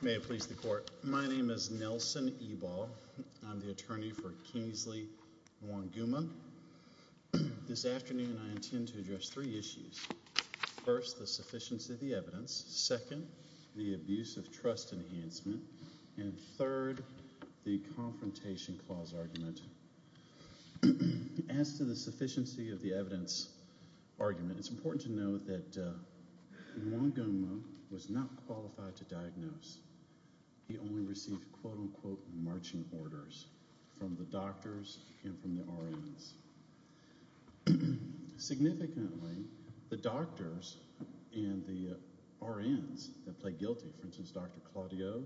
May it please the Court. My name is Nelson Ebal. I'm the attorney for Kingsley Wonguma. This afternoon I intend to address three issues. First, the sufficiency of the evidence. Second, the abuse of trust enhancement. And third, the confrontation clause argument. As to the Wonguma was not qualified to diagnose. He only received quote-unquote marching orders from the doctors and from the RNs. Significantly, the doctors and the RNs that played guilty, for instance, Dr. Claudio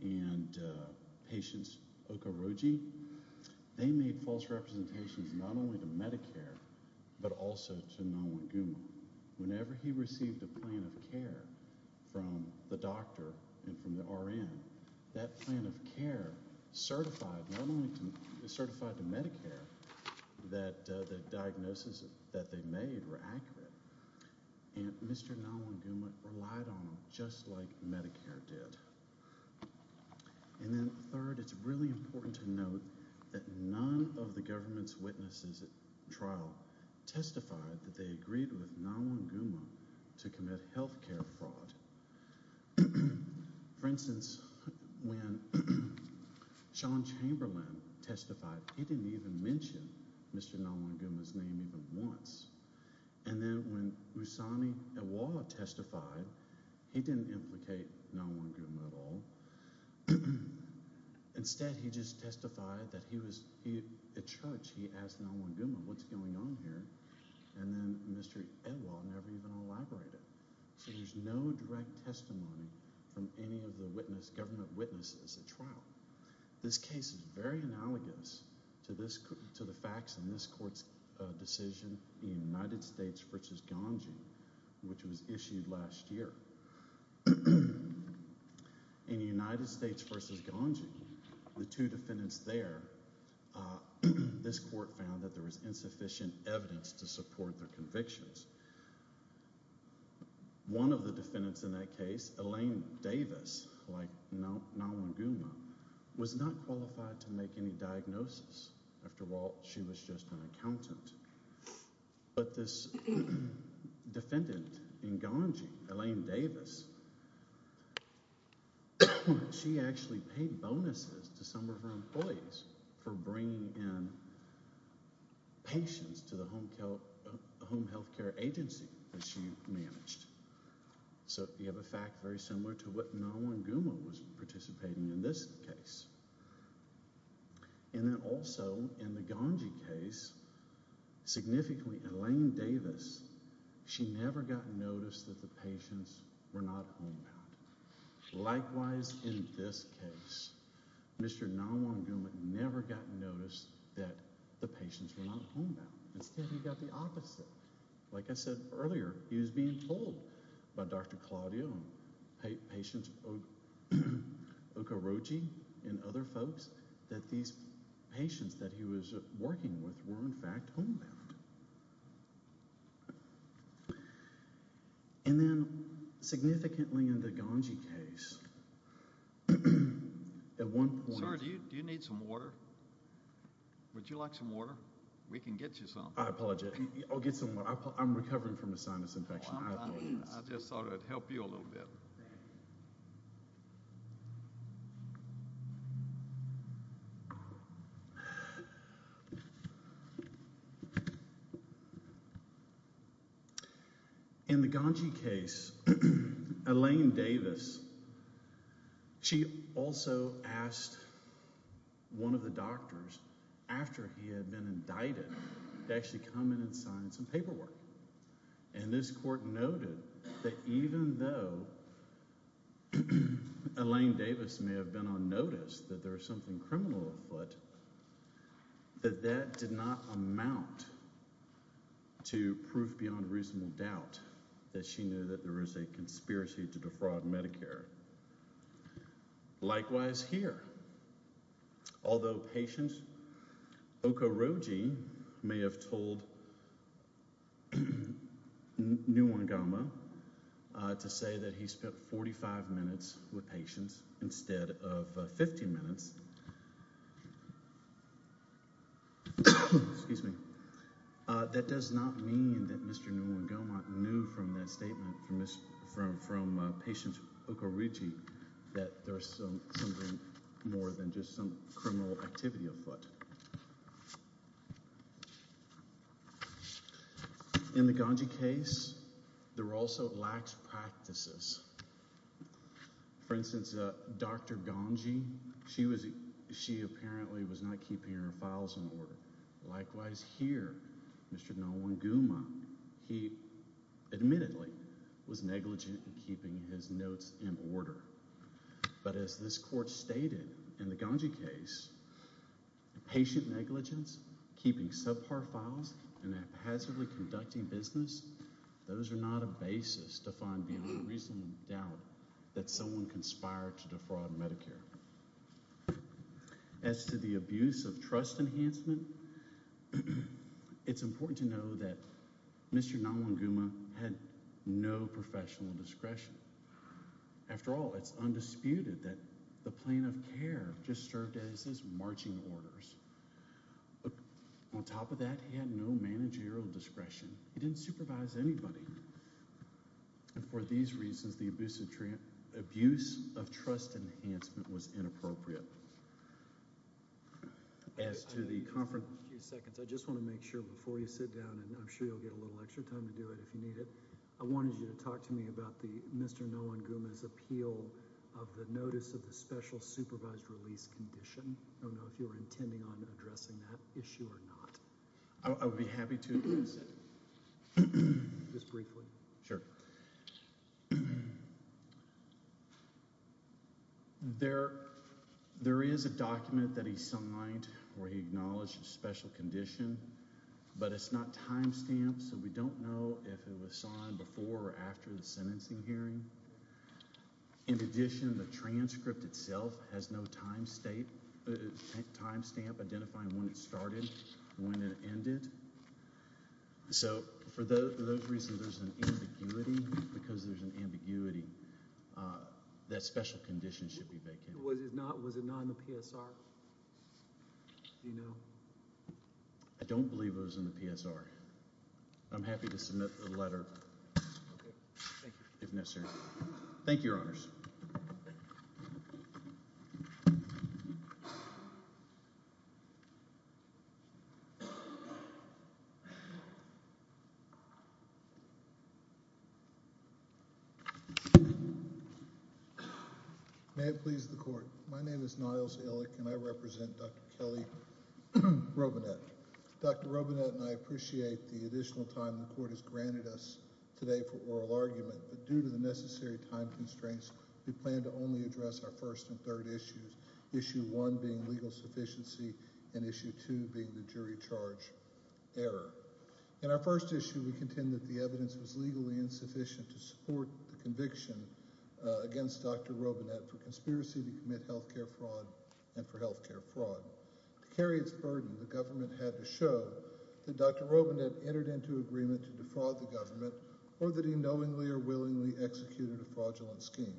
and patients Okoroji, they made false representations not only to Medicare, but also to Nalwonguma. Whenever he received a plan of care from the doctor and from the RN, that plan of care certified not only to, certified to Medicare that the diagnosis that they made were accurate. And Mr. Nalwonguma relied on them just like Medicare did. And then third, it's really important to note that none of the government's witnesses at trial testified that they agreed with Nalwonguma to commit health care fraud. For instance, when Sean Chamberlain testified, he didn't even mention Mr. Nalwonguma's name even once. And then when Usami Ewa testified, he didn't implicate Nalwonguma at all. Instead, he just testified that he was a judge. He asked Nalwonguma, what's going on here? And then Mr. Ewa never even elaborated. So there's no direct testimony from any of the government witnesses at trial. This case is very analogous to the facts in this court's decision, the United States versus Ganji, which was issued last year. In the United States versus Ganji, the two defendants there, this court found that there was insufficient evidence to support their convictions. One of the defendants in that case, Elaine Davis, like Nalwonguma, was not qualified to make any diagnosis. After all, she was just an accountant. But this defendant in Ganji, Elaine Davis, she actually paid bonuses to some of her employees for bringing in patients to the home health care agency that she managed. So you have a fact very similar to what Nalwonguma was participating in this case. And then also, in the Ganji case, significantly, Elaine Davis, she never got noticed that the patients were not homebound. Likewise, in this case, Mr. Nalwonguma never got noticed that the patients were not homebound. Instead, he got the opposite. Like I said earlier, he was being told by Dr. Claudio and patients Okoroji and other folks that these patients that he was working with were, in fact, homebound. And then, significantly, in the Ganji case, at one point— Sir, do you need some water? Would you like some water? We can get you some. I apologize. I'll get some water. I'm recovering from a sinus infection. I just thought I'd help you a little bit. In the Ganji case, Elaine Davis, she also asked one of the doctors, after he had been indicted, to actually come in and sign some paperwork. And this court noted that even though Elaine Davis may have been on notice that there was something criminal afoot, that that did not amount to proof beyond reasonable doubt that she knew that there may have told Nalwonguma to say that he spent 45 minutes with patients instead of 50 minutes. Excuse me. That does not mean that Mr. Nalwonguma knew from that statement from patients Okoroji that there was something more than just some criminal activity afoot. In the Ganji case, there were also lax practices. For instance, Dr. Ganji, she apparently was not keeping her files in order. Likewise, here, Mr. Nalwonguma, he admittedly was negligent in keeping his notes in order. But as this court stated in the Ganji case, patient negligence, keeping subpar files, and haphazardly conducting business, those are not a basis to find beyond reasonable doubt that someone conspired to defraud Medicare. As to the abuse of trust enhancement, it's important to know that Mr. Nalwonguma had no professional discretion. After all, it's undisputed that the Plain of Care just served as his marching orders. On top of that, he had no managerial discretion. He didn't supervise anybody. And for these reasons, the abuse of trust enhancement was inappropriate. As to the conference— I just want to make sure before you sit down, and I'm sure you'll get a little extra time to do it if you need it—I wanted you to talk to me about Mr. Nalwonguma's appeal of the notice of the special supervised release condition. I don't know if you were intending on addressing that issue or not. I would be happy to. Just briefly. Sure. There is a document that he signed where he acknowledged a special condition, but it's not timestamped, so we don't know if it was signed before or after the sentencing hearing. In addition, the transcript itself has no timestamp identifying when it started, when it ended. So for those reasons, there's an ambiguity. Because there's an ambiguity, that special condition should be vacant. Was it not in the PSR? Do you know? I don't believe it was in the PSR. I'm happy to submit the letter if necessary. Thank you, Your Honors. May it please the Court. My name is Niles Illick, and I represent Dr. Kelly Robinet. Dr. Robinet and I appreciate the additional time the Court has granted us today for oral argument, but due to the necessary time constraints, we plan to only address our first and third issues, issue one being legal sufficiency and issue two being the jury charge error. In our first issue, we contend that the evidence was legally insufficient to support the conviction against Dr. Robinet for conspiracy to commit health care fraud and for health care fraud. To carry its burden, the government had to show that Dr. Robinet entered into agreement to defraud the government or that he knowingly or willingly executed a fraudulent scheme.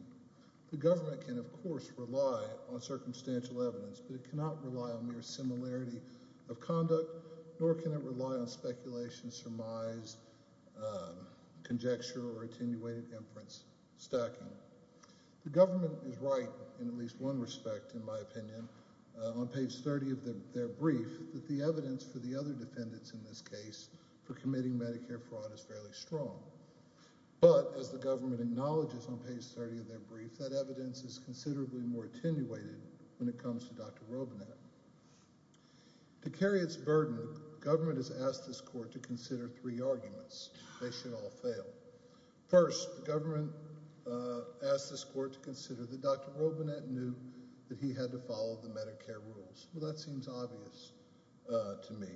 The government can, of course, rely on circumstantial evidence, but it cannot rely on mere similarity of conduct, nor can it rely on speculation, surmise, conjecture, or attenuated inference stacking. The government is right in at least one respect, in my opinion, on page 30 of their brief that the evidence for the other defendants in this case for committing Medicare fraud is fairly strong, but as the government acknowledges on page 30 of their brief, that evidence is considerably more attenuated when it comes to Dr. Robinet. To carry its burden, government has asked this Court to consider three arguments. They should all fail. First, the government asked this Court to consider that Dr. Robinet knew that he had to follow the Medicare rules. Well, that seems obvious to me.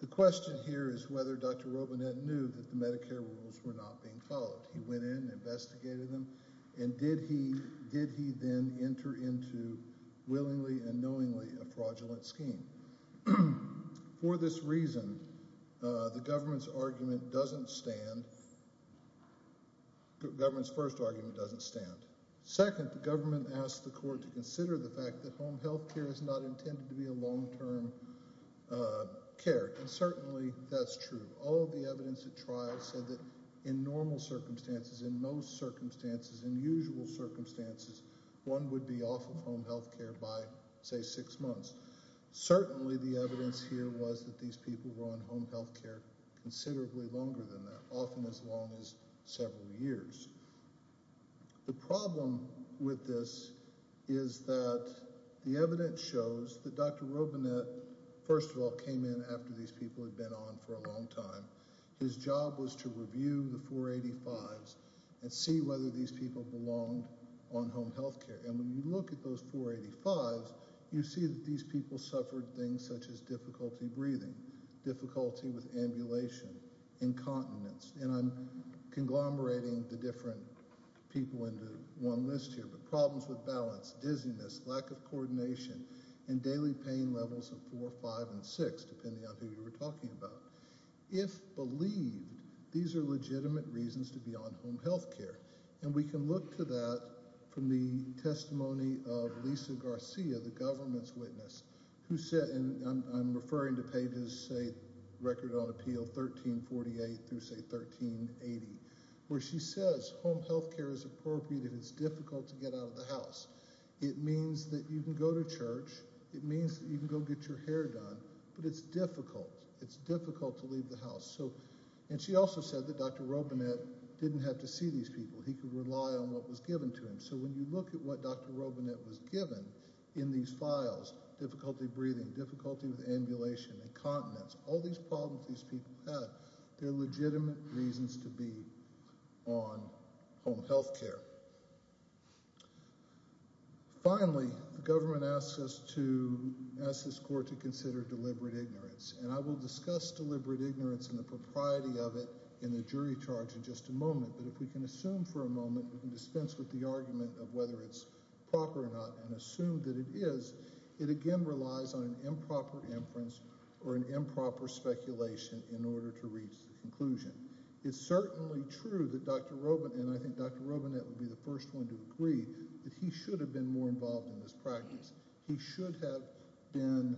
The question here is whether Dr. Robinet knew that the Medicare rules were not being followed. He went in and investigated them, and did he then enter into willingly and knowingly a fraudulent scheme? For this reason, the government's argument doesn't stand. The government's first argument doesn't stand. Second, the government asked the Court to consider that Dr. Robinet knew that he had to follow the Medicare rules. He went in and investigated them. The third argument is that Dr. Robinet, first of all, came in after these people had been on for a long time. His job was to review the 485s and see whether these people belonged on home health care, and when you look at those 485s, you see that these people suffered things such as difficulty breathing, difficulty with ambulation, incontinence, and I'm conglomerating the different people into one list here, but problems with balance, dizziness, lack of coordination, and daily pain levels of four, five, and six, depending on who you were talking about. If believed, these are legitimate reasons to be on home health care, and we can look to that from the testimony of Lisa Garcia, the government's witness, who said, and I'm referring to pages, say, record on appeal 1348 through, say, 1380, where she says home health care is appropriate if it's difficult to get out of the house. It means that you can go to church. It means that you can go get your hair done, but it's difficult. It's difficult to leave the house, and she also said that Dr. Robinet didn't have to see these people. He could rely on what was given to him, so when you look at what Dr. Robinet was given in these files, difficulty breathing, difficulty with ambulation, incontinence, all these problems these people had, they're legitimate reasons to be on home health care. Finally, the government asks us to, asks this court to consider deliberate ignorance, and I will discuss deliberate ignorance and the propriety of it in the jury charge in just a moment, but if we can assume for a moment, we can dispense with the argument of whether it's proper or not and assume that it is. It again relies on an improper inference or an improper speculation in order to reach the conclusion. It's certainly true that Dr. Robinet, and I think Dr. Robinet would be the first one to agree, that he should have been more involved in this practice. He should have been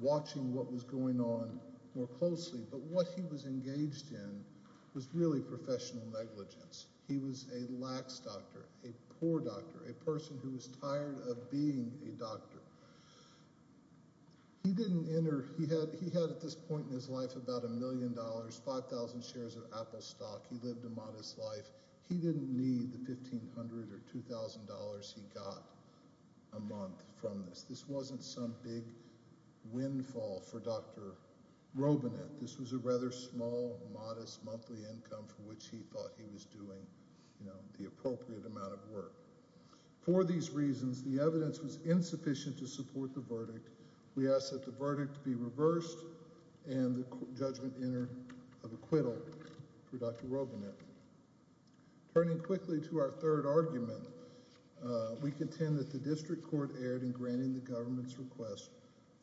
watching what was going on more closely, but what he was engaged in was really professional negligence. He was a lax doctor, a poor doctor, a person who was tired of being a doctor. He didn't enter, he had at this point in his life about a million dollars, 5,000 shares of Apple stock. He lived a modest life. He didn't need the $1,500 or $2,000 he got a month from this. This wasn't some big windfall for Dr. Robinet. This was a rather small, modest monthly income for which he thought he was doing, you know, the appropriate amount of work. For these reasons, the evidence was insufficient to support the verdict. We ask that the verdict be reversed and the judgment enter of acquittal for Dr. Robinet. Turning quickly to our third argument, we contend that the district court erred in granting the government's request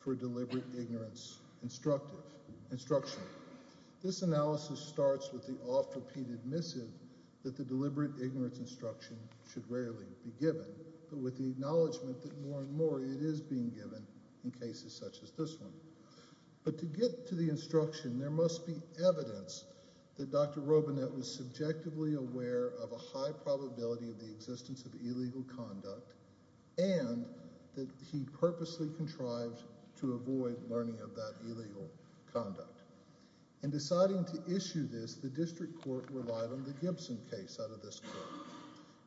for deliberate ignorance instruction. This analysis starts with the oft-repeated missive that the deliberate ignorance instruction should rarely be given, but with the acknowledgement that more and more it is being given in cases such as this one. But to get to the instruction, there must be evidence that Dr. Robinet was subjectively aware of a high probability of the existence of illegal conduct and that he purposely contrived to avoid learning of that illegal conduct. In deciding to issue this, the district court relied on the Gibson case out of this court.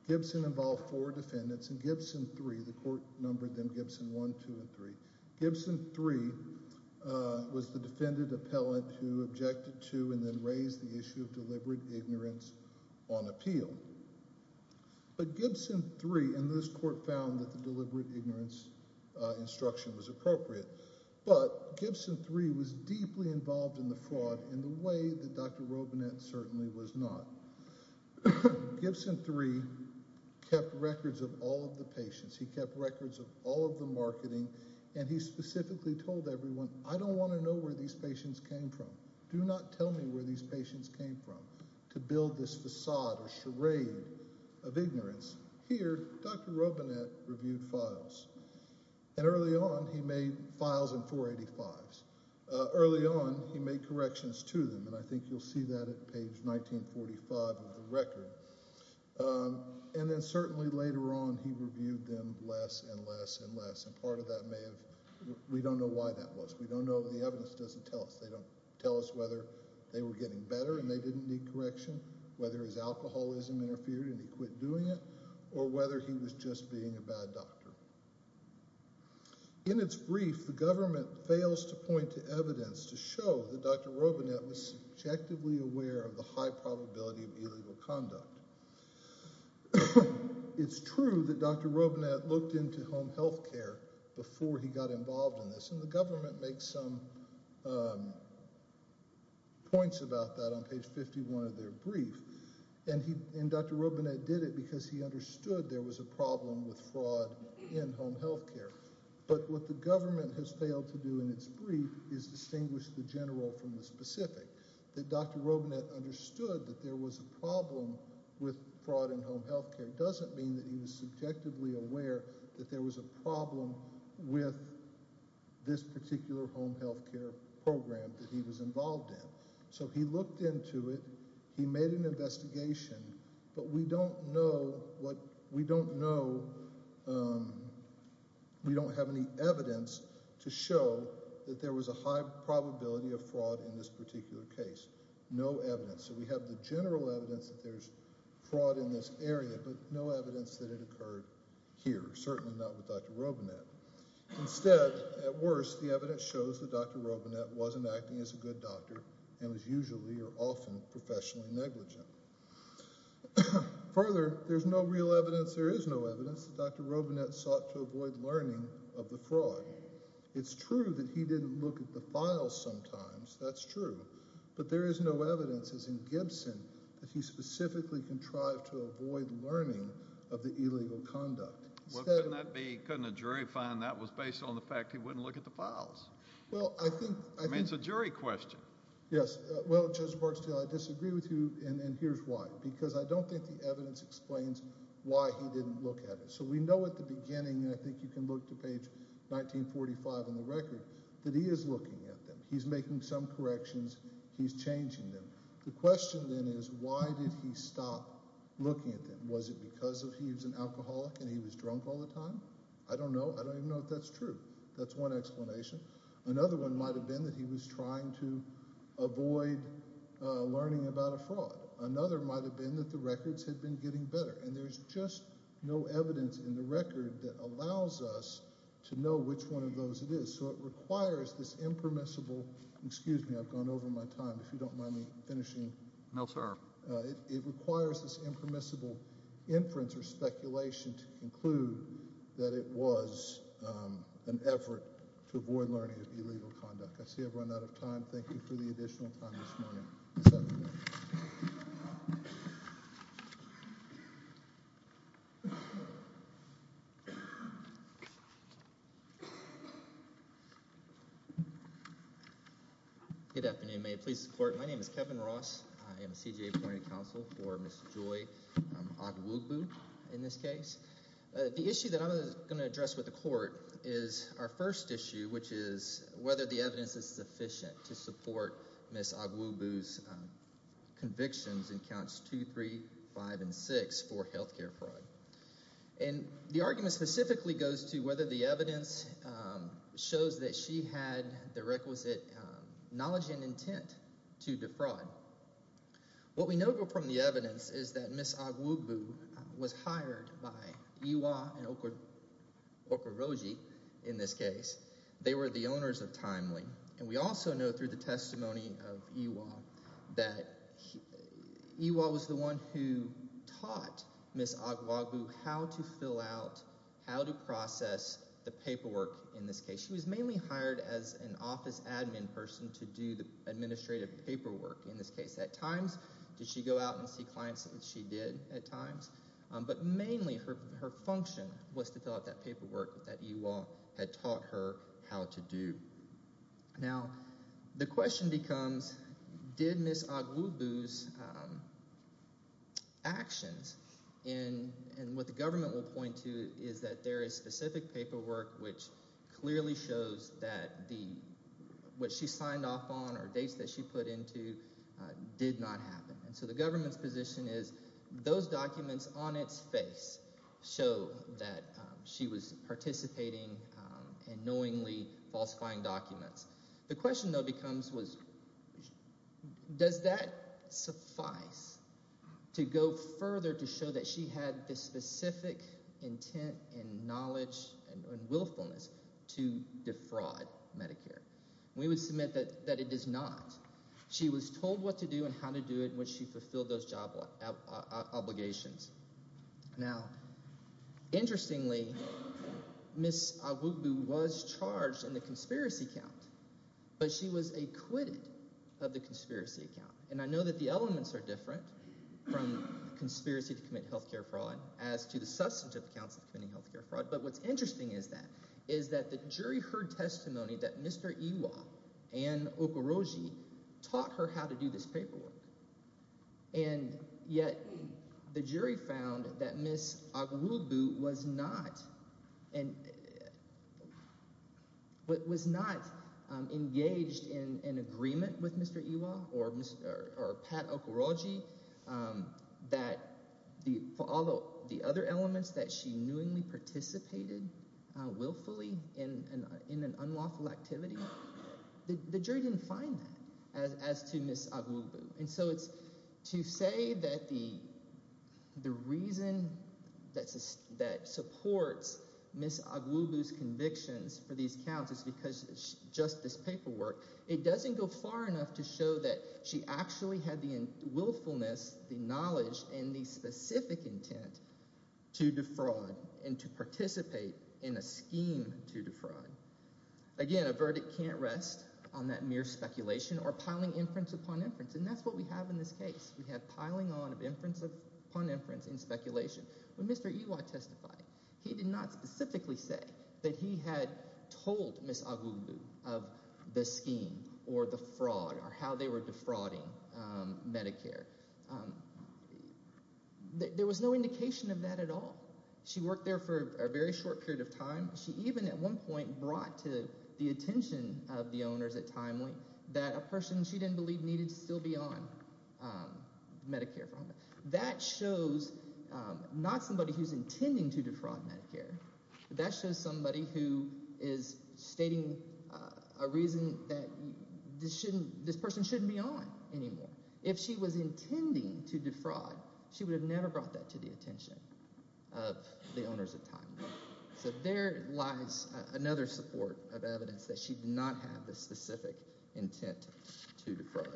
Gibson involved four defendants. In Gibson 3, the court numbered them Gibson 1, 2, and 3. Gibson 3 was the defendant appellant who objected to and then raised the issue of deliberate ignorance on appeal. But Gibson 3 in this court found that the deliberate ignorance instruction was appropriate. But Gibson 3 was deeply involved in the fraud in the way that Dr. Robinet certainly was not. Gibson 3 kept records of all of the patients. He kept records of all of the marketing and he specifically told everyone, I don't want to know where these patients came from. Do not tell me where these patients came from to build this facade or charade of ignorance. Here, Dr. Robinet reviewed files and early on he made files in 485s. Early on he made corrections to them and I think you'll see that at page 1945 of the record. And then certainly later on he reviewed them less and less and less and part of that may have, we don't know why that was. We don't know, the evidence doesn't tell us. They don't tell us whether they were getting better and they didn't need correction, whether his alcoholism interfered and he quit doing it or whether he was just being a bad doctor. In its brief, the government fails to point to evidence to show that Dr. Robinet was subjectively aware of the high probability of illegal conduct. It's true that Dr. Robinet looked into home health care before he got involved in this and government makes some points about that on page 51 of their brief and Dr. Robinet did it because he understood there was a problem with fraud in home health care. But what the government has failed to do in its brief is distinguish the general from the specific. That Dr. Robinet understood that there was a problem with fraud in home health care doesn't mean that he was subjectively aware that there was a problem with this particular home health care program that he was involved in. So he looked into it, he made an investigation, but we don't know what, we don't know, we don't have any evidence to show that there was a high probability of fraud in this particular case. No evidence. So we have the general evidence that there's fraud in this area but no evidence that it occurred here, certainly not with Dr. Robinet. Instead, at worst, the evidence shows that Dr. Robinet wasn't acting as a good doctor and was usually or often professionally negligent. Further, there's no real evidence, there is no evidence that Dr. Robinet sought to avoid learning of the fraud. It's true that he didn't look at the files sometimes, that's true, but there is no evidence that Dr. Robinet sought to avoid learning of the illegal conduct. Well, couldn't that be, couldn't a jury find that was based on the fact he wouldn't look at the files? Well, I think, I mean, it's a jury question. Yes, well, Judge Barksdale, I disagree with you and here's why, because I don't think the evidence explains why he didn't look at it. So we know at the beginning, and I think you can look to page 1945 on the record, that he is looking at them, he's making some corrections, he's changing them. The question then is, why did he stop looking at them? Was it because he was an alcoholic and he was drunk all the time? I don't know, I don't even know if that's true. That's one explanation. Another one might have been that he was trying to avoid learning about a fraud. Another might have been that the records had been getting better, and there's just no evidence in the record that allows us to know which one of those it is. So it requires this impermissible, excuse me, I've gone over my time, if you don't mind me finishing. No, sir. It requires this impermissible inference or speculation to conclude that it was an effort to avoid learning of illegal conduct. I see I've run out of time. Thank you for the additional time this morning. Good afternoon. May it please the court, my name is Kevin Ross. I am a CJA appointed counsel for Ms. Joy Ogwugu in this case. The issue that I'm going to address with the court is our first issue, which is whether the evidence is sufficient to support Ms. Ogwugu's convictions in counts 2, 3, 5, and 6 for health care fraud. And the argument specifically goes to whether the evidence shows that she had the requisite knowledge and intent to defraud. What we know from the testimony of Ms. Ogwugu is that they were the owners of Timely. And we also know through the testimony of Ewall that Ewall was the one who taught Ms. Ogwugu how to fill out, how to process the paperwork in this case. She was mainly hired as an office admin person to do the administrative paperwork in this case. At times, did she go out and see clients, and she did at times. But mainly her function was to fill out that paperwork that Ewall had taught her how to do. Now, the question becomes, did Ms. Ogwugu's actions, and what the government will point to is that there is specific paperwork which clearly shows that what she signed off on or dates that she put into did not happen. And so the government's position is, those documents on its face show that she was participating in knowingly falsifying documents. The question though becomes, does that suffice to go further to show that she had the specific intent and knowledge and we would submit that it is not. She was told what to do and how to do it when she fulfilled those job obligations. Now, interestingly, Ms. Ogwugu was charged in the conspiracy count, but she was acquitted of the conspiracy count. And I know that the elements are different from conspiracy to commit healthcare fraud as to the substantive counts of committing healthcare fraud. But what's interesting is that the jury heard testimony that Mr. Ewall and Okorogi taught her how to do this paperwork. And yet the jury found that Ms. Ogwugu was not engaged in an unlawful activity. The jury didn't find that as to Ms. Ogwugu. And so it's to say that the reason that supports Ms. Ogwugu's convictions for these counts is because just this paperwork, it doesn't go far enough to show that she actually had the willfulness, the knowledge, and the specific intent to defraud and to participate in a scheme to defraud. Again, a verdict can't rest on that mere speculation or piling inference upon inference. And that's what we have in this case. We have piling on of inference upon inference in speculation. When Mr. Ewall testified, he did not specifically say that he had told Ms. Ogwugu of the scheme or the fraud or how they were defrauding Medicare. There was no indication of that at all. She worked there for a very short period of time. She even at one point brought to the attention of the owners at TimeLink that a person she didn't believe needed to still be on Medicare. That shows not somebody who's intending to defraud Medicare. That shows somebody who is stating a reason that this person shouldn't be on anymore. If she was intending to defraud, she would have never brought that to the attention of the owners at TimeLink. So there lies another support of evidence that she did not have the specific intent to defraud.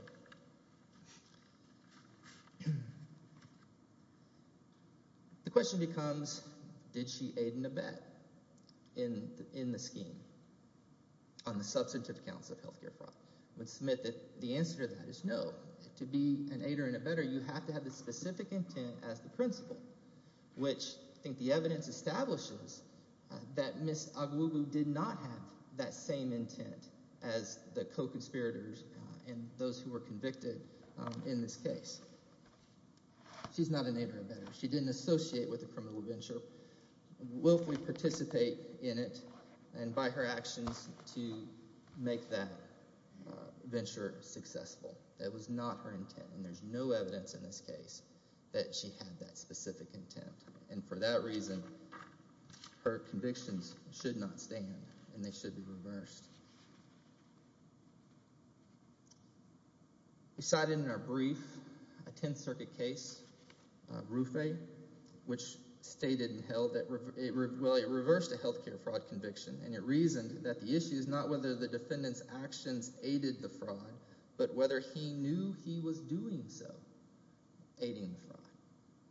The question becomes, did she aid and abet in the scheme on the substantive accounts of health care fraud? I would submit that the answer to that is no. To be an aider and abetter, you have to have the specific intent as the principal, which I think the evidence establishes that Ms. Ogwugu did not have that same intent as the co-conspirators and those who were convicted in this case. She's not an aider and abetter. She didn't associate with the criminal venture. Willfully participate in it and by her actions to make that venture successful. That was not her intent and there's no evidence in this case that she had that specific intent. And for that reason, her convictions should not stand and they should be reversed. We cited in our brief a 10th Circuit case, Rufay, which stated and held that it reversed a health care fraud conviction and it reasoned that the issue is not whether the defendant's actions aided the fraud, but whether he knew he was doing so, aiding the fraud.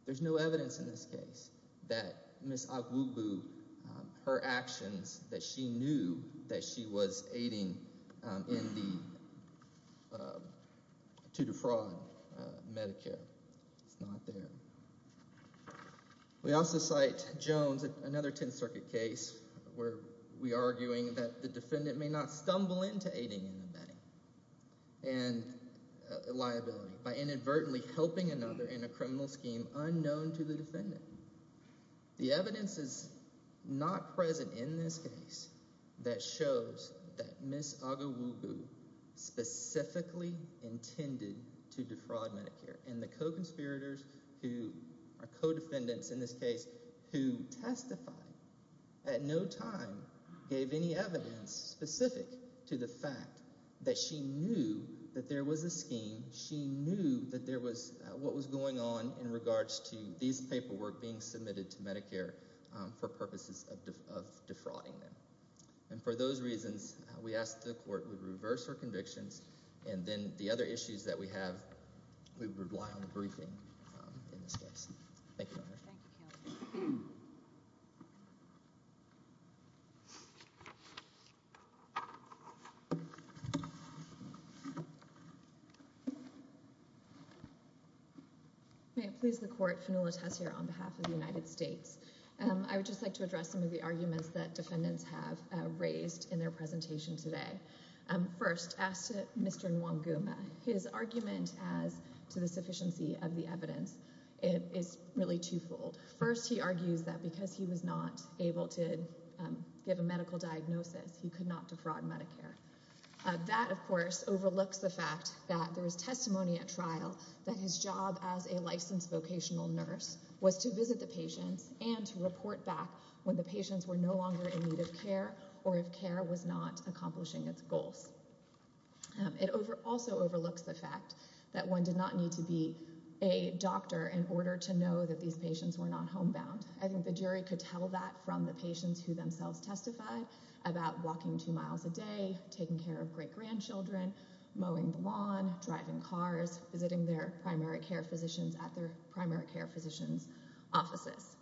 There's no evidence in this aiding to defraud Medicare. It's not there. We also cite Jones, another 10th Circuit case where we are arguing that the defendant may not stumble into aiding and abetting and liability by inadvertently helping another in a criminal scheme unknown to the defendant. The evidence is not present in this case that shows that Ms. Agawugu specifically intended to defraud Medicare and the co-conspirators who are co-defendants in this case who testified at no time gave any evidence specific to the fact that she knew that there was a scheme. She knew that there was what was going on in regards to these paperwork being submitted to Medicare for purposes of defrauding them. And for those reasons, we asked the court to reverse her convictions and then the other issues that we have, we would rely on the briefing in this case. May it please the court, Fenula Tessier on behalf of the United States. I would just like to address some of the arguments that defendants have raised in their presentation today. First, as to Mr. Nwanguma, his argument as to the sufficiency of the evidence is really twofold. First, he argues that because he was not able to give a medical diagnosis, he could not defraud Medicare. That, of course, overlooks the fact that there was testimony at trial that his job as a licensed vocational nurse was to visit the patients and to report back when the patients were no longer in need of care or if care was not accomplishing its goals. It also overlooks the fact that one did not need to be a doctor in order to know that these patients were not homebound. I think the jury could tell that from the patients who themselves testified about walking two miles a day, taking care of great-grandchildren, mowing the lawn, driving cars, visiting their primary care physicians at their primary care physician's offices.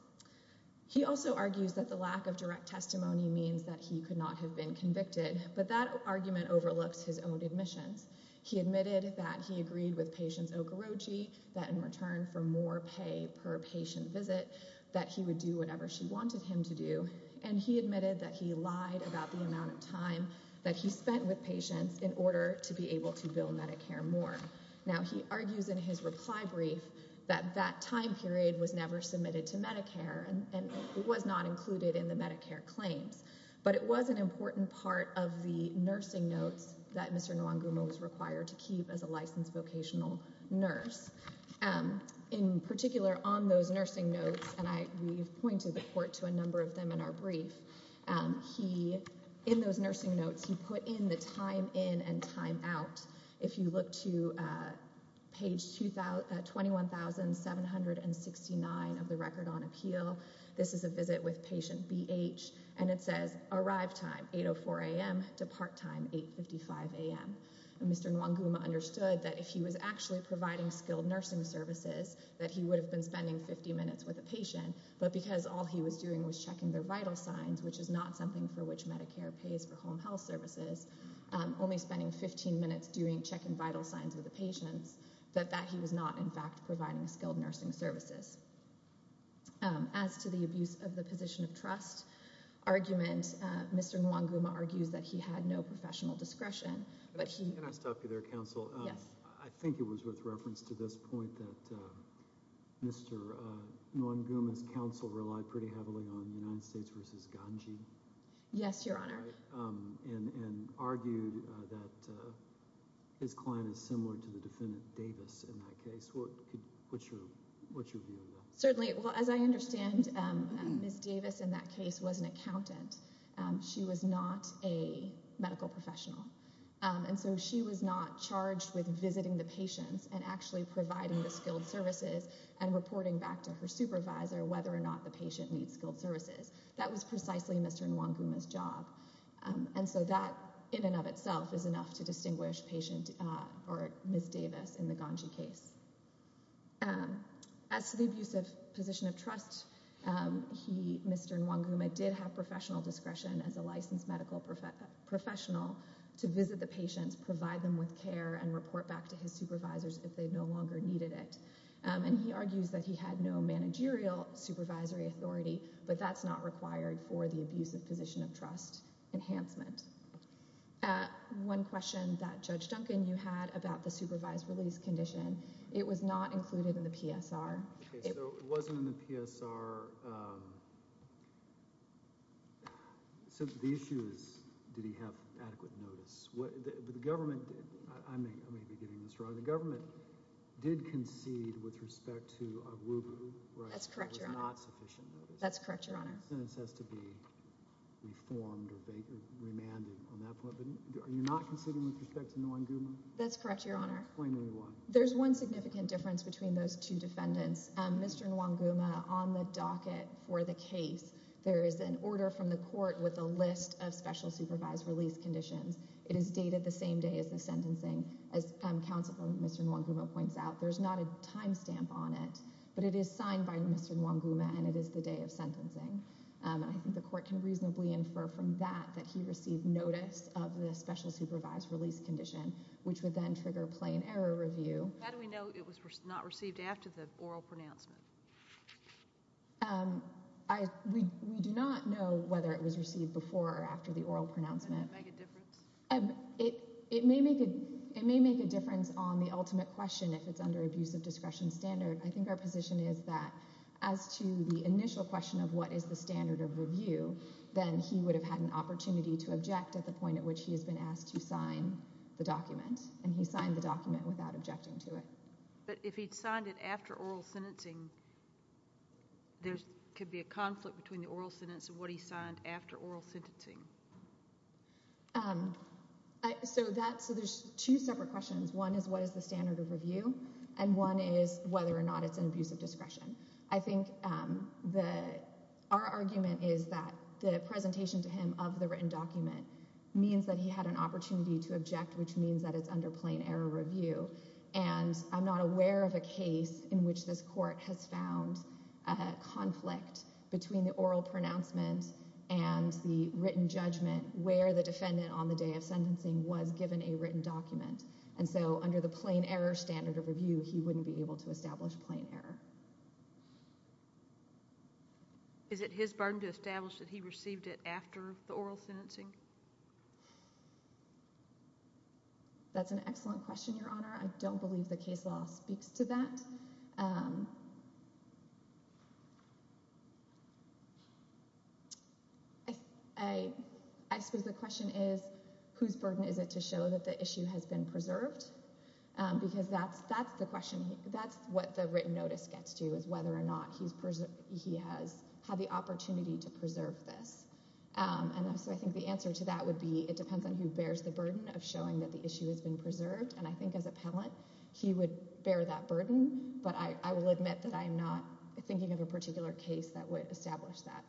He also argues that the lack of direct testimony means that he could not have been convicted, but that argument overlooks his own admissions. He admitted that he agreed with patients Okorochi that in return for more pay per patient visit that he would do whatever she wanted him to do, and he admitted that he lied about the amount of time that he spent with patients in order to be able to bill Medicare more. Now, he argues in his reply brief that that time period was never submitted to Medicare and was not included in the Medicare claims, but it was an important part of the nursing notes that Mr. Nwanguma was required to keep as a licensed vocational nurse. In particular, on those nursing notes, and we've pointed the court to a number of them in our brief, in those nursing notes he put in the time in and time out. If you look to page 21,769 of the Record on Appeal, this is a visit with patient BH, and it says arrive time 8.04 a.m. to part time 8.55 a.m. Mr. Nwanguma understood that if he was actually providing skilled nursing services that he would have been spending 50 minutes with a patient, but because all he was doing was checking their vital signs, which is not something for which Medicare pays for home health services, only spending 15 minutes doing check and vital signs with the patients, that that he was not, in fact, providing skilled nursing services. As to the abuse of the position of trust argument, Mr. Nwanguma argues that he had no professional discretion, but he... Can I stop you there, Counsel? Yes. I think it was with reference to this point that Mr. Nwanguma's counsel relied pretty heavily on United States v. Ganji. Yes, Your Honor. And argued that his client is similar to the defendant Davis in that case. What's your view? Certainly. Well, as I understand, Ms. Davis in that case was an accountant. She was not a medical professional, and so she was not charged with visiting the patients and actually providing the skilled services and reporting back to her supervisor whether or not the patient needs skilled services. That was precisely Mr. Nwanguma's job, and so that in and of itself is enough to distinguish patient or Ms. Davis in the Ganji case. As to the abuse of position of trust, he, Mr. Nwanguma, did have professional discretion as a licensed medical professional to visit the patients, provide them with care, and report back to his supervisors if they no longer needed it. And he argues that he had no managerial supervisory authority, but that's not required for the abuse of position of trust enhancement. One question that, Judge Duncan, you had about the supervised release condition. It was not included in the PSR. Okay, so it wasn't in the PSR. So the issue is, did he have adequate notice? What the government did, I may be getting this wrong, the government did concede with respect to Nwanguma. That's correct, Your Honor. That's correct, Your Honor. The sentence has to be reformed or remanded on that point, but are you not conceding with respect to Nwanguma? That's correct, Your Honor. There's one significant difference between those two defendants. Mr. Nwanguma, on the docket for the case, there is an order from the court with a list of special supervised release conditions. It is dated the same day as the sentencing. As counsel, Mr. Nwanguma points out, there's not a time stamp on it, but it is signed by Mr. Nwanguma and it is the day of sentencing. I think the court can reasonably infer from that that he received notice of the special supervised release condition, which would then trigger plain error review. How do we know it was not received after the oral pronouncement? We do not know whether it was received before or after the oral pronouncement. It may make a difference on the ultimate question if it's under abuse of discretion standard. I think our position is that as to the initial question of what is the standard of review, then he would have had an opportunity to object at the point at which he has been asked to sign the document, and he signed the document without objecting to it. But if he'd signed it after oral sentencing, there could be a conflict between the oral sentence and what he signed after oral sentencing. There's two separate questions. One is what is the standard of review, and one is whether or not it's an abuse of discretion. I think that our argument is that the presentation to him of the written document means that he had an opportunity to object, which means that it's under plain error review. And I'm not aware of a case in which this court has found a conflict between the oral pronouncement and the written judgment where the defendant on the day of sentencing was given a written document. And so under the plain error standard of review, he wouldn't be able to establish plain error. Is it his burden to establish that he received it after the oral sentencing? That's an excellent question, Your Honor. I don't believe the case law speaks to that. I suppose the question is, whose burden is it to show that the issue has been preserved? Because that's what the written notice gets to, is whether or not he has had the opportunity to preserve this. And so I think the answer to that would be it depends on who bears the burden of showing that the issue has been preserved. And I think as appellant, he would bear that burden, but I will admit that I'm not thinking of a particular case that would establish that.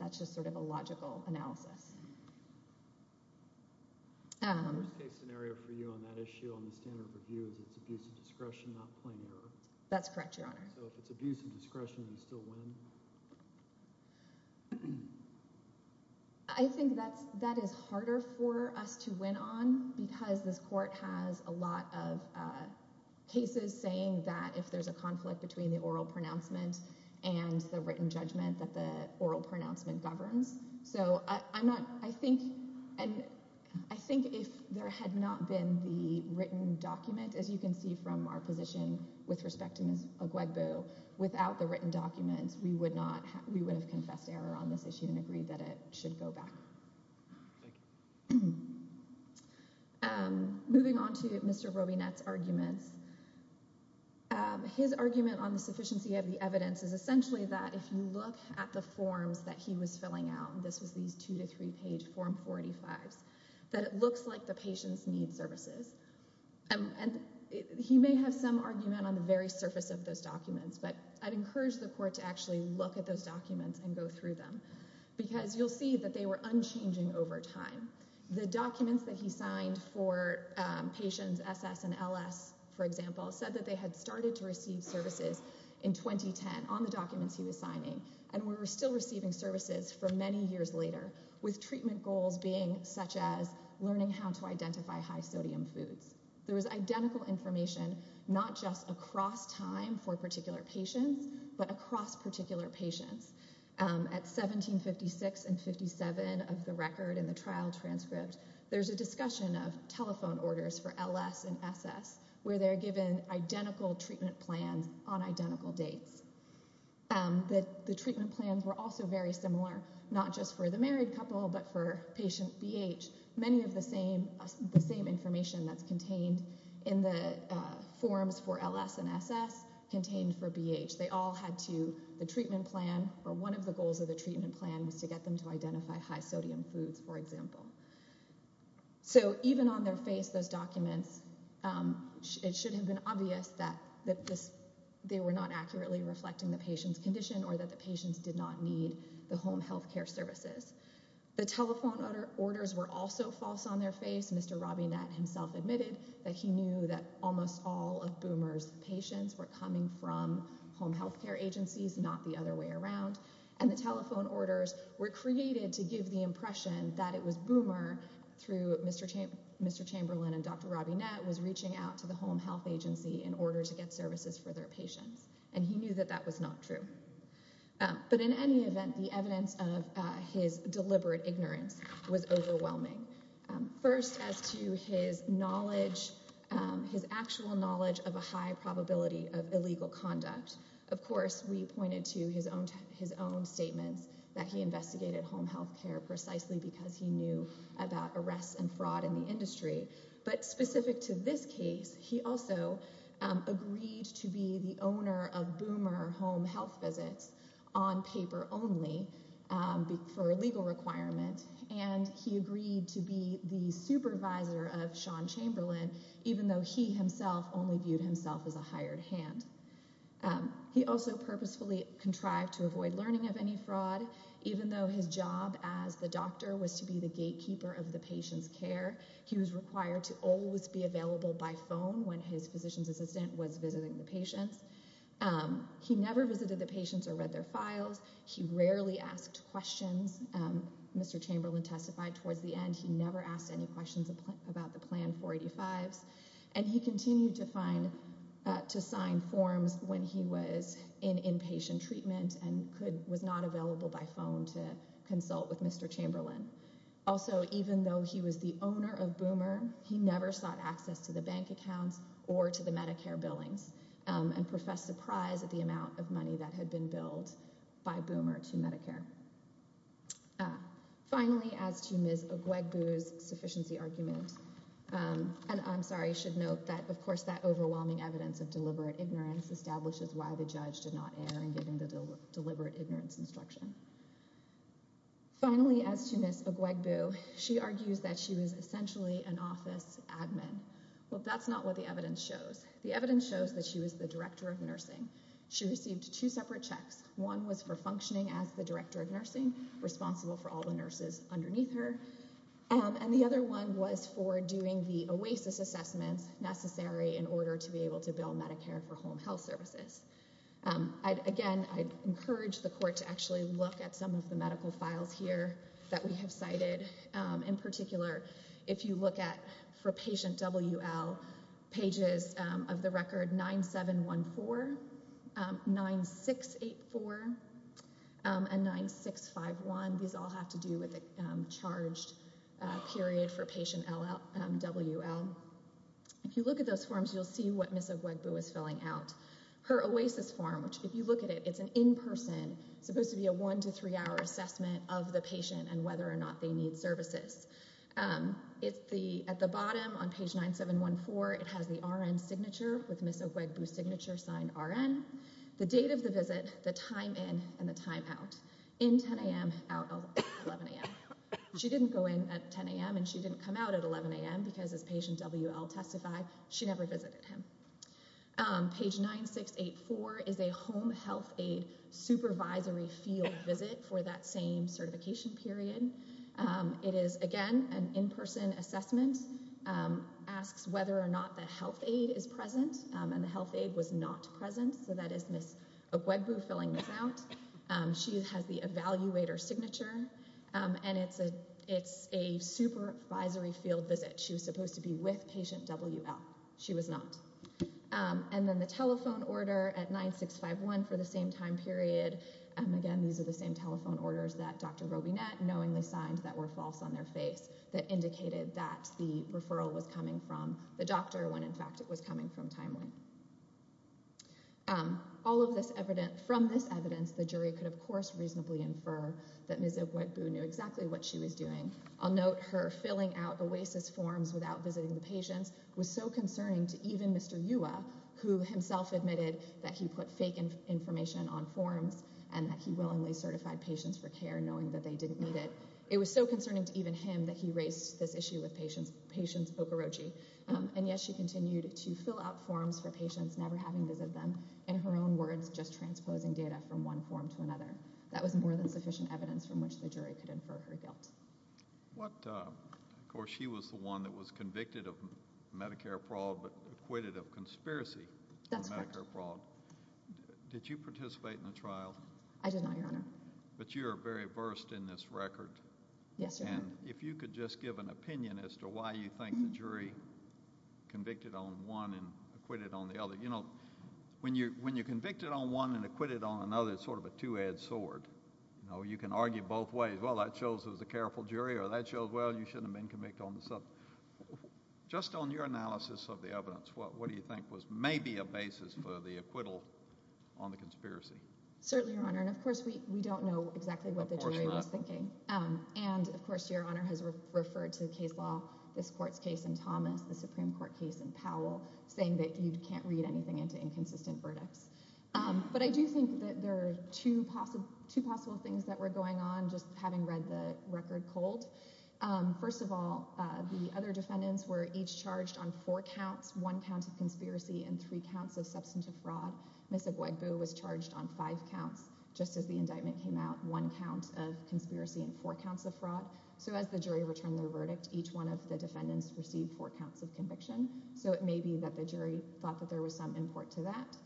That's just sort of a logical analysis. The worst case scenario for you on that issue on the standard of review is it's abuse of discretion, not plain error? That's correct, Your Honor. So if it's abuse of discretion, you still win? I think that is harder for us to win on because this court has a lot of cases saying that if there's a conflict between the oral pronouncement and the written judgment that the oral pronouncement is the one that's going to win. So I think if there had not been the written document, as you can see from our position with respect to Ms. Oguegbu, without the written documents, we would have confessed error on this issue and agreed that it should go back. Moving on to Mr. Robinet's arguments. His argument on the sufficiency of the evidence is essentially that if you look at the forms that he was filling out, this was these two to three page form 45s, that it looks like the patients need services. And he may have some argument on the very surface of those documents, but I'd encourage the court to actually look at those documents and go through them because you'll see that they were unchanging over time. The documents that he signed for patients SS and LS, for example, said that they had started to sign on the documents he was signing and were still receiving services for many years later, with treatment goals being such as learning how to identify high sodium foods. There was identical information, not just across time for particular patients, but across particular patients. At 1756 and 57 of the record in the trial transcript, there's a discussion of telephone orders for LS and SS where they're given identical treatment plans on identical dates. The treatment plans were also very similar, not just for the married couple, but for patient BH. Many of the same information that's contained in the forms for LS and SS contained for BH. They all had to, the treatment plan, or one of the goals of the treatment plan was to get them to identify high sodium foods, for example. So even on their face, those documents, it should have been obvious that they were not accurately reflecting the patient's condition or that the patients did not need the home health care services. The telephone orders were also false on their face. Mr. Robinette himself admitted that he knew that almost all of Boomer's patients were coming from home health care agencies, not the other way around. And the Dr. Robinette was reaching out to the home health agency in order to get services for their patients. And he knew that that was not true. But in any event, the evidence of his deliberate ignorance was overwhelming. First as to his knowledge, his actual knowledge of a high probability of illegal conduct. Of course, we pointed to his own statements that he investigated home health care precisely because he knew about arrests and fraud in the industry. But specific to this case, he also agreed to be the owner of Boomer home health visits on paper only for a legal requirement. And he agreed to be the supervisor of Sean Chamberlain, even though he himself only viewed himself as a hired hand. He also purposefully contrived to avoid learning of fraud, even though his job as the doctor was to be the gatekeeper of the patient's care. He was required to always be available by phone when his physician's assistant was visiting the patients. He never visited the patients or read their files. He rarely asked questions. Mr. Chamberlain testified towards the end he never asked any questions about the plan 485s. And he continued to sign forms when he was in inpatient treatment and was not available by phone to consult with Mr. Chamberlain. Also, even though he was the owner of Boomer, he never sought access to the bank accounts or to the Medicare billings and professed surprise at the amount of money that had been billed by Boomer to Medicare. Finally, as to Ms. Oguegbu's sufficiency argument, and I'm sorry, I should note that, of course, that overwhelming evidence of deliberate ignorance establishes why the judge did not err in giving the deliberate ignorance instruction. Finally, as to Ms. Oguegbu, she argues that she was essentially an office admin. Well, that's not what the evidence shows. The evidence shows that she was the director of nursing. She received two separate checks. One was for functioning as the director of nursing, responsible for all the nurses underneath her, and the other one was for doing the OASIS assessments necessary in order to be able to bill Medicare for home health services. Again, I'd encourage the court to actually look at some of the medical files here that we have cited. In particular, if you look at for patient W.L., pages of the record 9714, 9684, and 9651, these all have to do with the charged period for patient W.L. If you look at those forms, you'll see what Ms. Oguegbu is filling out. Her OASIS form, which if you look at it, it's an in-person, supposed to be a one to three-hour assessment of the patient and whether or not they need services. At the bottom on page 9714, it has the RN signature with Ms. Oguegbu's signed RN, the date of the visit, the time in and the time out, in 10 a.m., out at 11 a.m. She didn't go in at 10 a.m. and she didn't come out at 11 a.m. because as patient W.L. testified, she never visited him. Page 9684 is a home health aid supervisory field visit for that same certification period. It is, again, an in-person assessment, asks whether or not the health aid is present, and the health aid was not present, so that is Ms. Oguegbu filling this out. She has the evaluator signature, and it's a supervisory field visit. She was supposed to be with patient W.L. She was not. And then the telephone order at 9651 for the same time period. Again, these are the same telephone orders that Dr. Robinet knowingly signed that were false on their face, that indicated that the referral was coming from the doctor when, in fact, it was coming from Timeline. From this evidence, the jury could, of course, reasonably infer that Ms. Oguegbu knew exactly what she was doing. I'll note her filling out OASIS forms without visiting the patients was so concerning to even Mr. Yuwa, who himself admitted that he put fake information on forms and that he willingly certified patients for care, knowing that they didn't need it. It was so concerning to even him that he raised this issue with patients' Okorochi. And yes, she continued to fill out forms for patients, never having visited them, in her own words, just transposing data from one form to another. That was more than sufficient evidence from which the jury could infer her guilt. Of course, she was the one that was convicted of Medicare fraud, but acquitted of conspiracy for Medicare fraud. That's correct. Did you participate in the trial? I did not, Your Honor. But you're very versed in this record. Yes, Your Honor. And if you could just give an opinion as to why you think the jury convicted on one and acquitted on the other. You know, when you're convicted on one and acquitted on another, it's sort of a two-edged sword. You know, you can argue both ways. Well, that shows it was a careful jury, or that shows, well, you shouldn't have been convicted on the subject. Just on your analysis of the evidence, what do you think was maybe a basis for the verdict? Of course, Your Honor. And of course, we don't know exactly what the jury was thinking. And of course, Your Honor has referred to the case law, this court's case in Thomas, the Supreme Court case in Powell, saying that you can't read anything into inconsistent verdicts. But I do think that there are two possible things that were going on, just having read the record cold. First of all, the other defendants were each charged on four counts, one count of conspiracy and three counts of substantive fraud. Ms. Agwegu was charged on five counts just as the indictment came out, one count of conspiracy and four counts of fraud. So as the jury returned their verdict, each one of the defendants received four counts of conviction. So it may be that the jury thought that there was some import to that.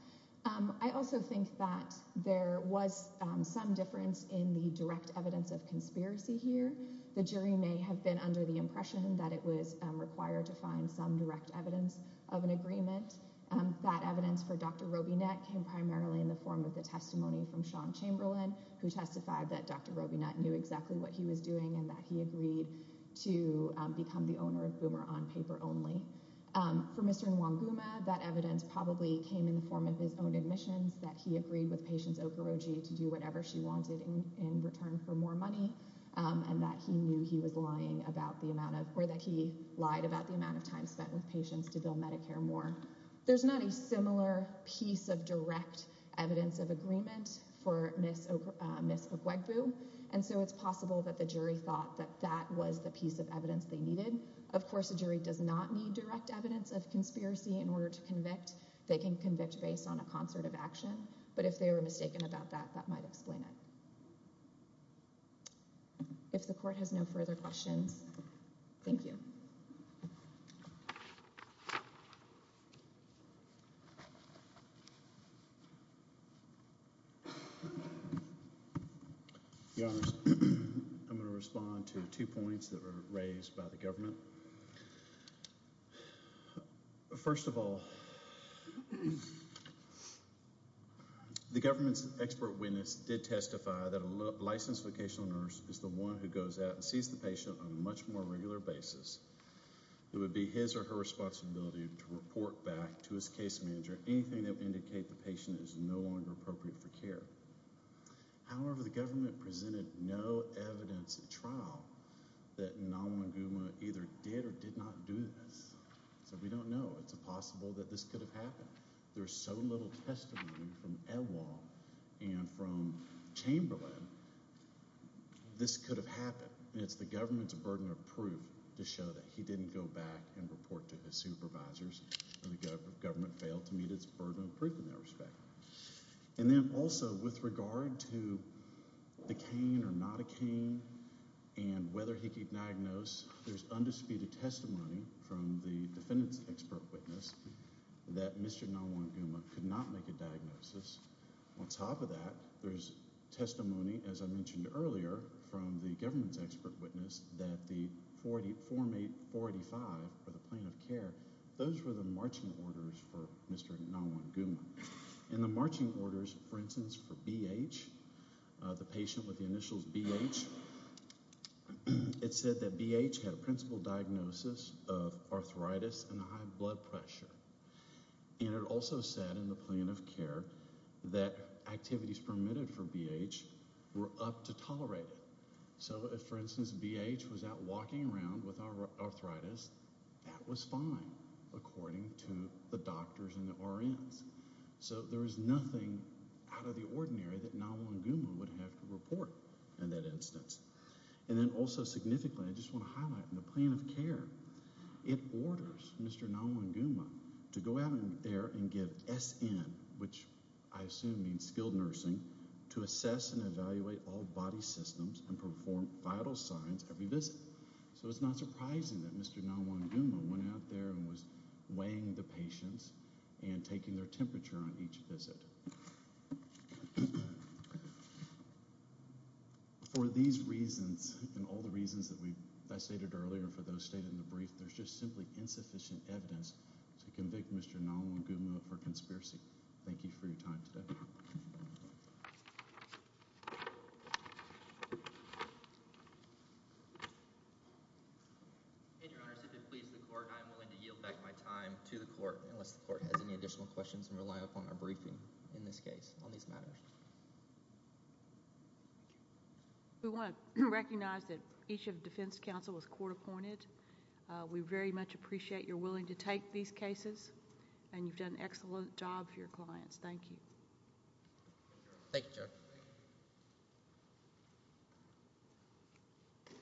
I also think that there was some difference in the direct evidence of conspiracy here. The jury may have been under the impression that it was that evidence for Dr. Robinet came primarily in the form of the testimony from Sean Chamberlain, who testified that Dr. Robinet knew exactly what he was doing and that he agreed to become the owner of Boomer on paper only. For Mr. Nwanguma, that evidence probably came in the form of his own admissions, that he agreed with Patience Okoroji to do whatever she wanted in return for more money and that he knew he was lying about the amount of or that he lied about the amount of time spent with Patience to bill Medicare more. There's not a similar piece of direct evidence of agreement for Ms. Agwegu, and so it's possible that the jury thought that that was the piece of evidence they needed. Of course, a jury does not need direct evidence of conspiracy in order to convict. They can convict based on a concert of action, but if they were mistaken about that, that might explain it. If the court has no further questions, thank you. I'm going to respond to two points that were raised by the government. First of all, the government's expert witness did testify that a licensed vocational nurse is the one who goes out and sees the patient on a much more regular basis. It would be his or her responsibility to report back to his case manager anything that would indicate the patient is no longer appropriate for care. However, the government presented no evidence at trial that Nwanguma either did or did not do this, so we don't know. It's possible that this could have happened. There's so little testimony from Ewa and from Chamberlain, this could have happened. It's the government's burden of proof to show that he didn't go back and report to his supervisors, and the government failed to meet its burden of proof in that respect. Then also, with regard to the cane or not a cane and whether he could diagnose, there's undisputed testimony from the defendant's expert witness that Mr. Nwanguma could not make a diagnosis. On top of that, there's testimony, as I mentioned earlier, from the government's expert witness that the form 845 for the plan of care, those were the marching orders for Mr. Nwanguma. In the marching orders, for instance, for BH, the patient with the initials BH, it said that BH had a principal diagnosis of arthritis and high blood pressure, and it also said in the plan of care that activities permitted for BH were up to tolerate. So if, for instance, BH was out walking around with arthritis, that was fine according to the doctors and the RNs. So there is nothing out of the ordinary that Nwanguma would have to report in that instance. And then also significantly, I just want to highlight in the plan of care, it orders Mr. Nwanguma to go out there and give SN, which I assume means skilled nursing, to assess and evaluate all body systems and perform vital signs every visit. So it's not surprising that Mr. Nwanguma went out there and was weighing the patients and taking their temperature on each visit. For these reasons and all the reasons that I stated earlier for those stated in the brief, there's just simply insufficient evidence to convict Mr. Nwanguma for conspiracy. Thank you for your time today. If it pleases the court, I'm willing to yield back my time to the court unless the court has any additional questions and rely upon our briefing in this case on these matters. We want to recognize that each of the defense counsel was court appointed. We very much appreciate your willing to take these cases and you've done an excellent job for your clients. Thank you.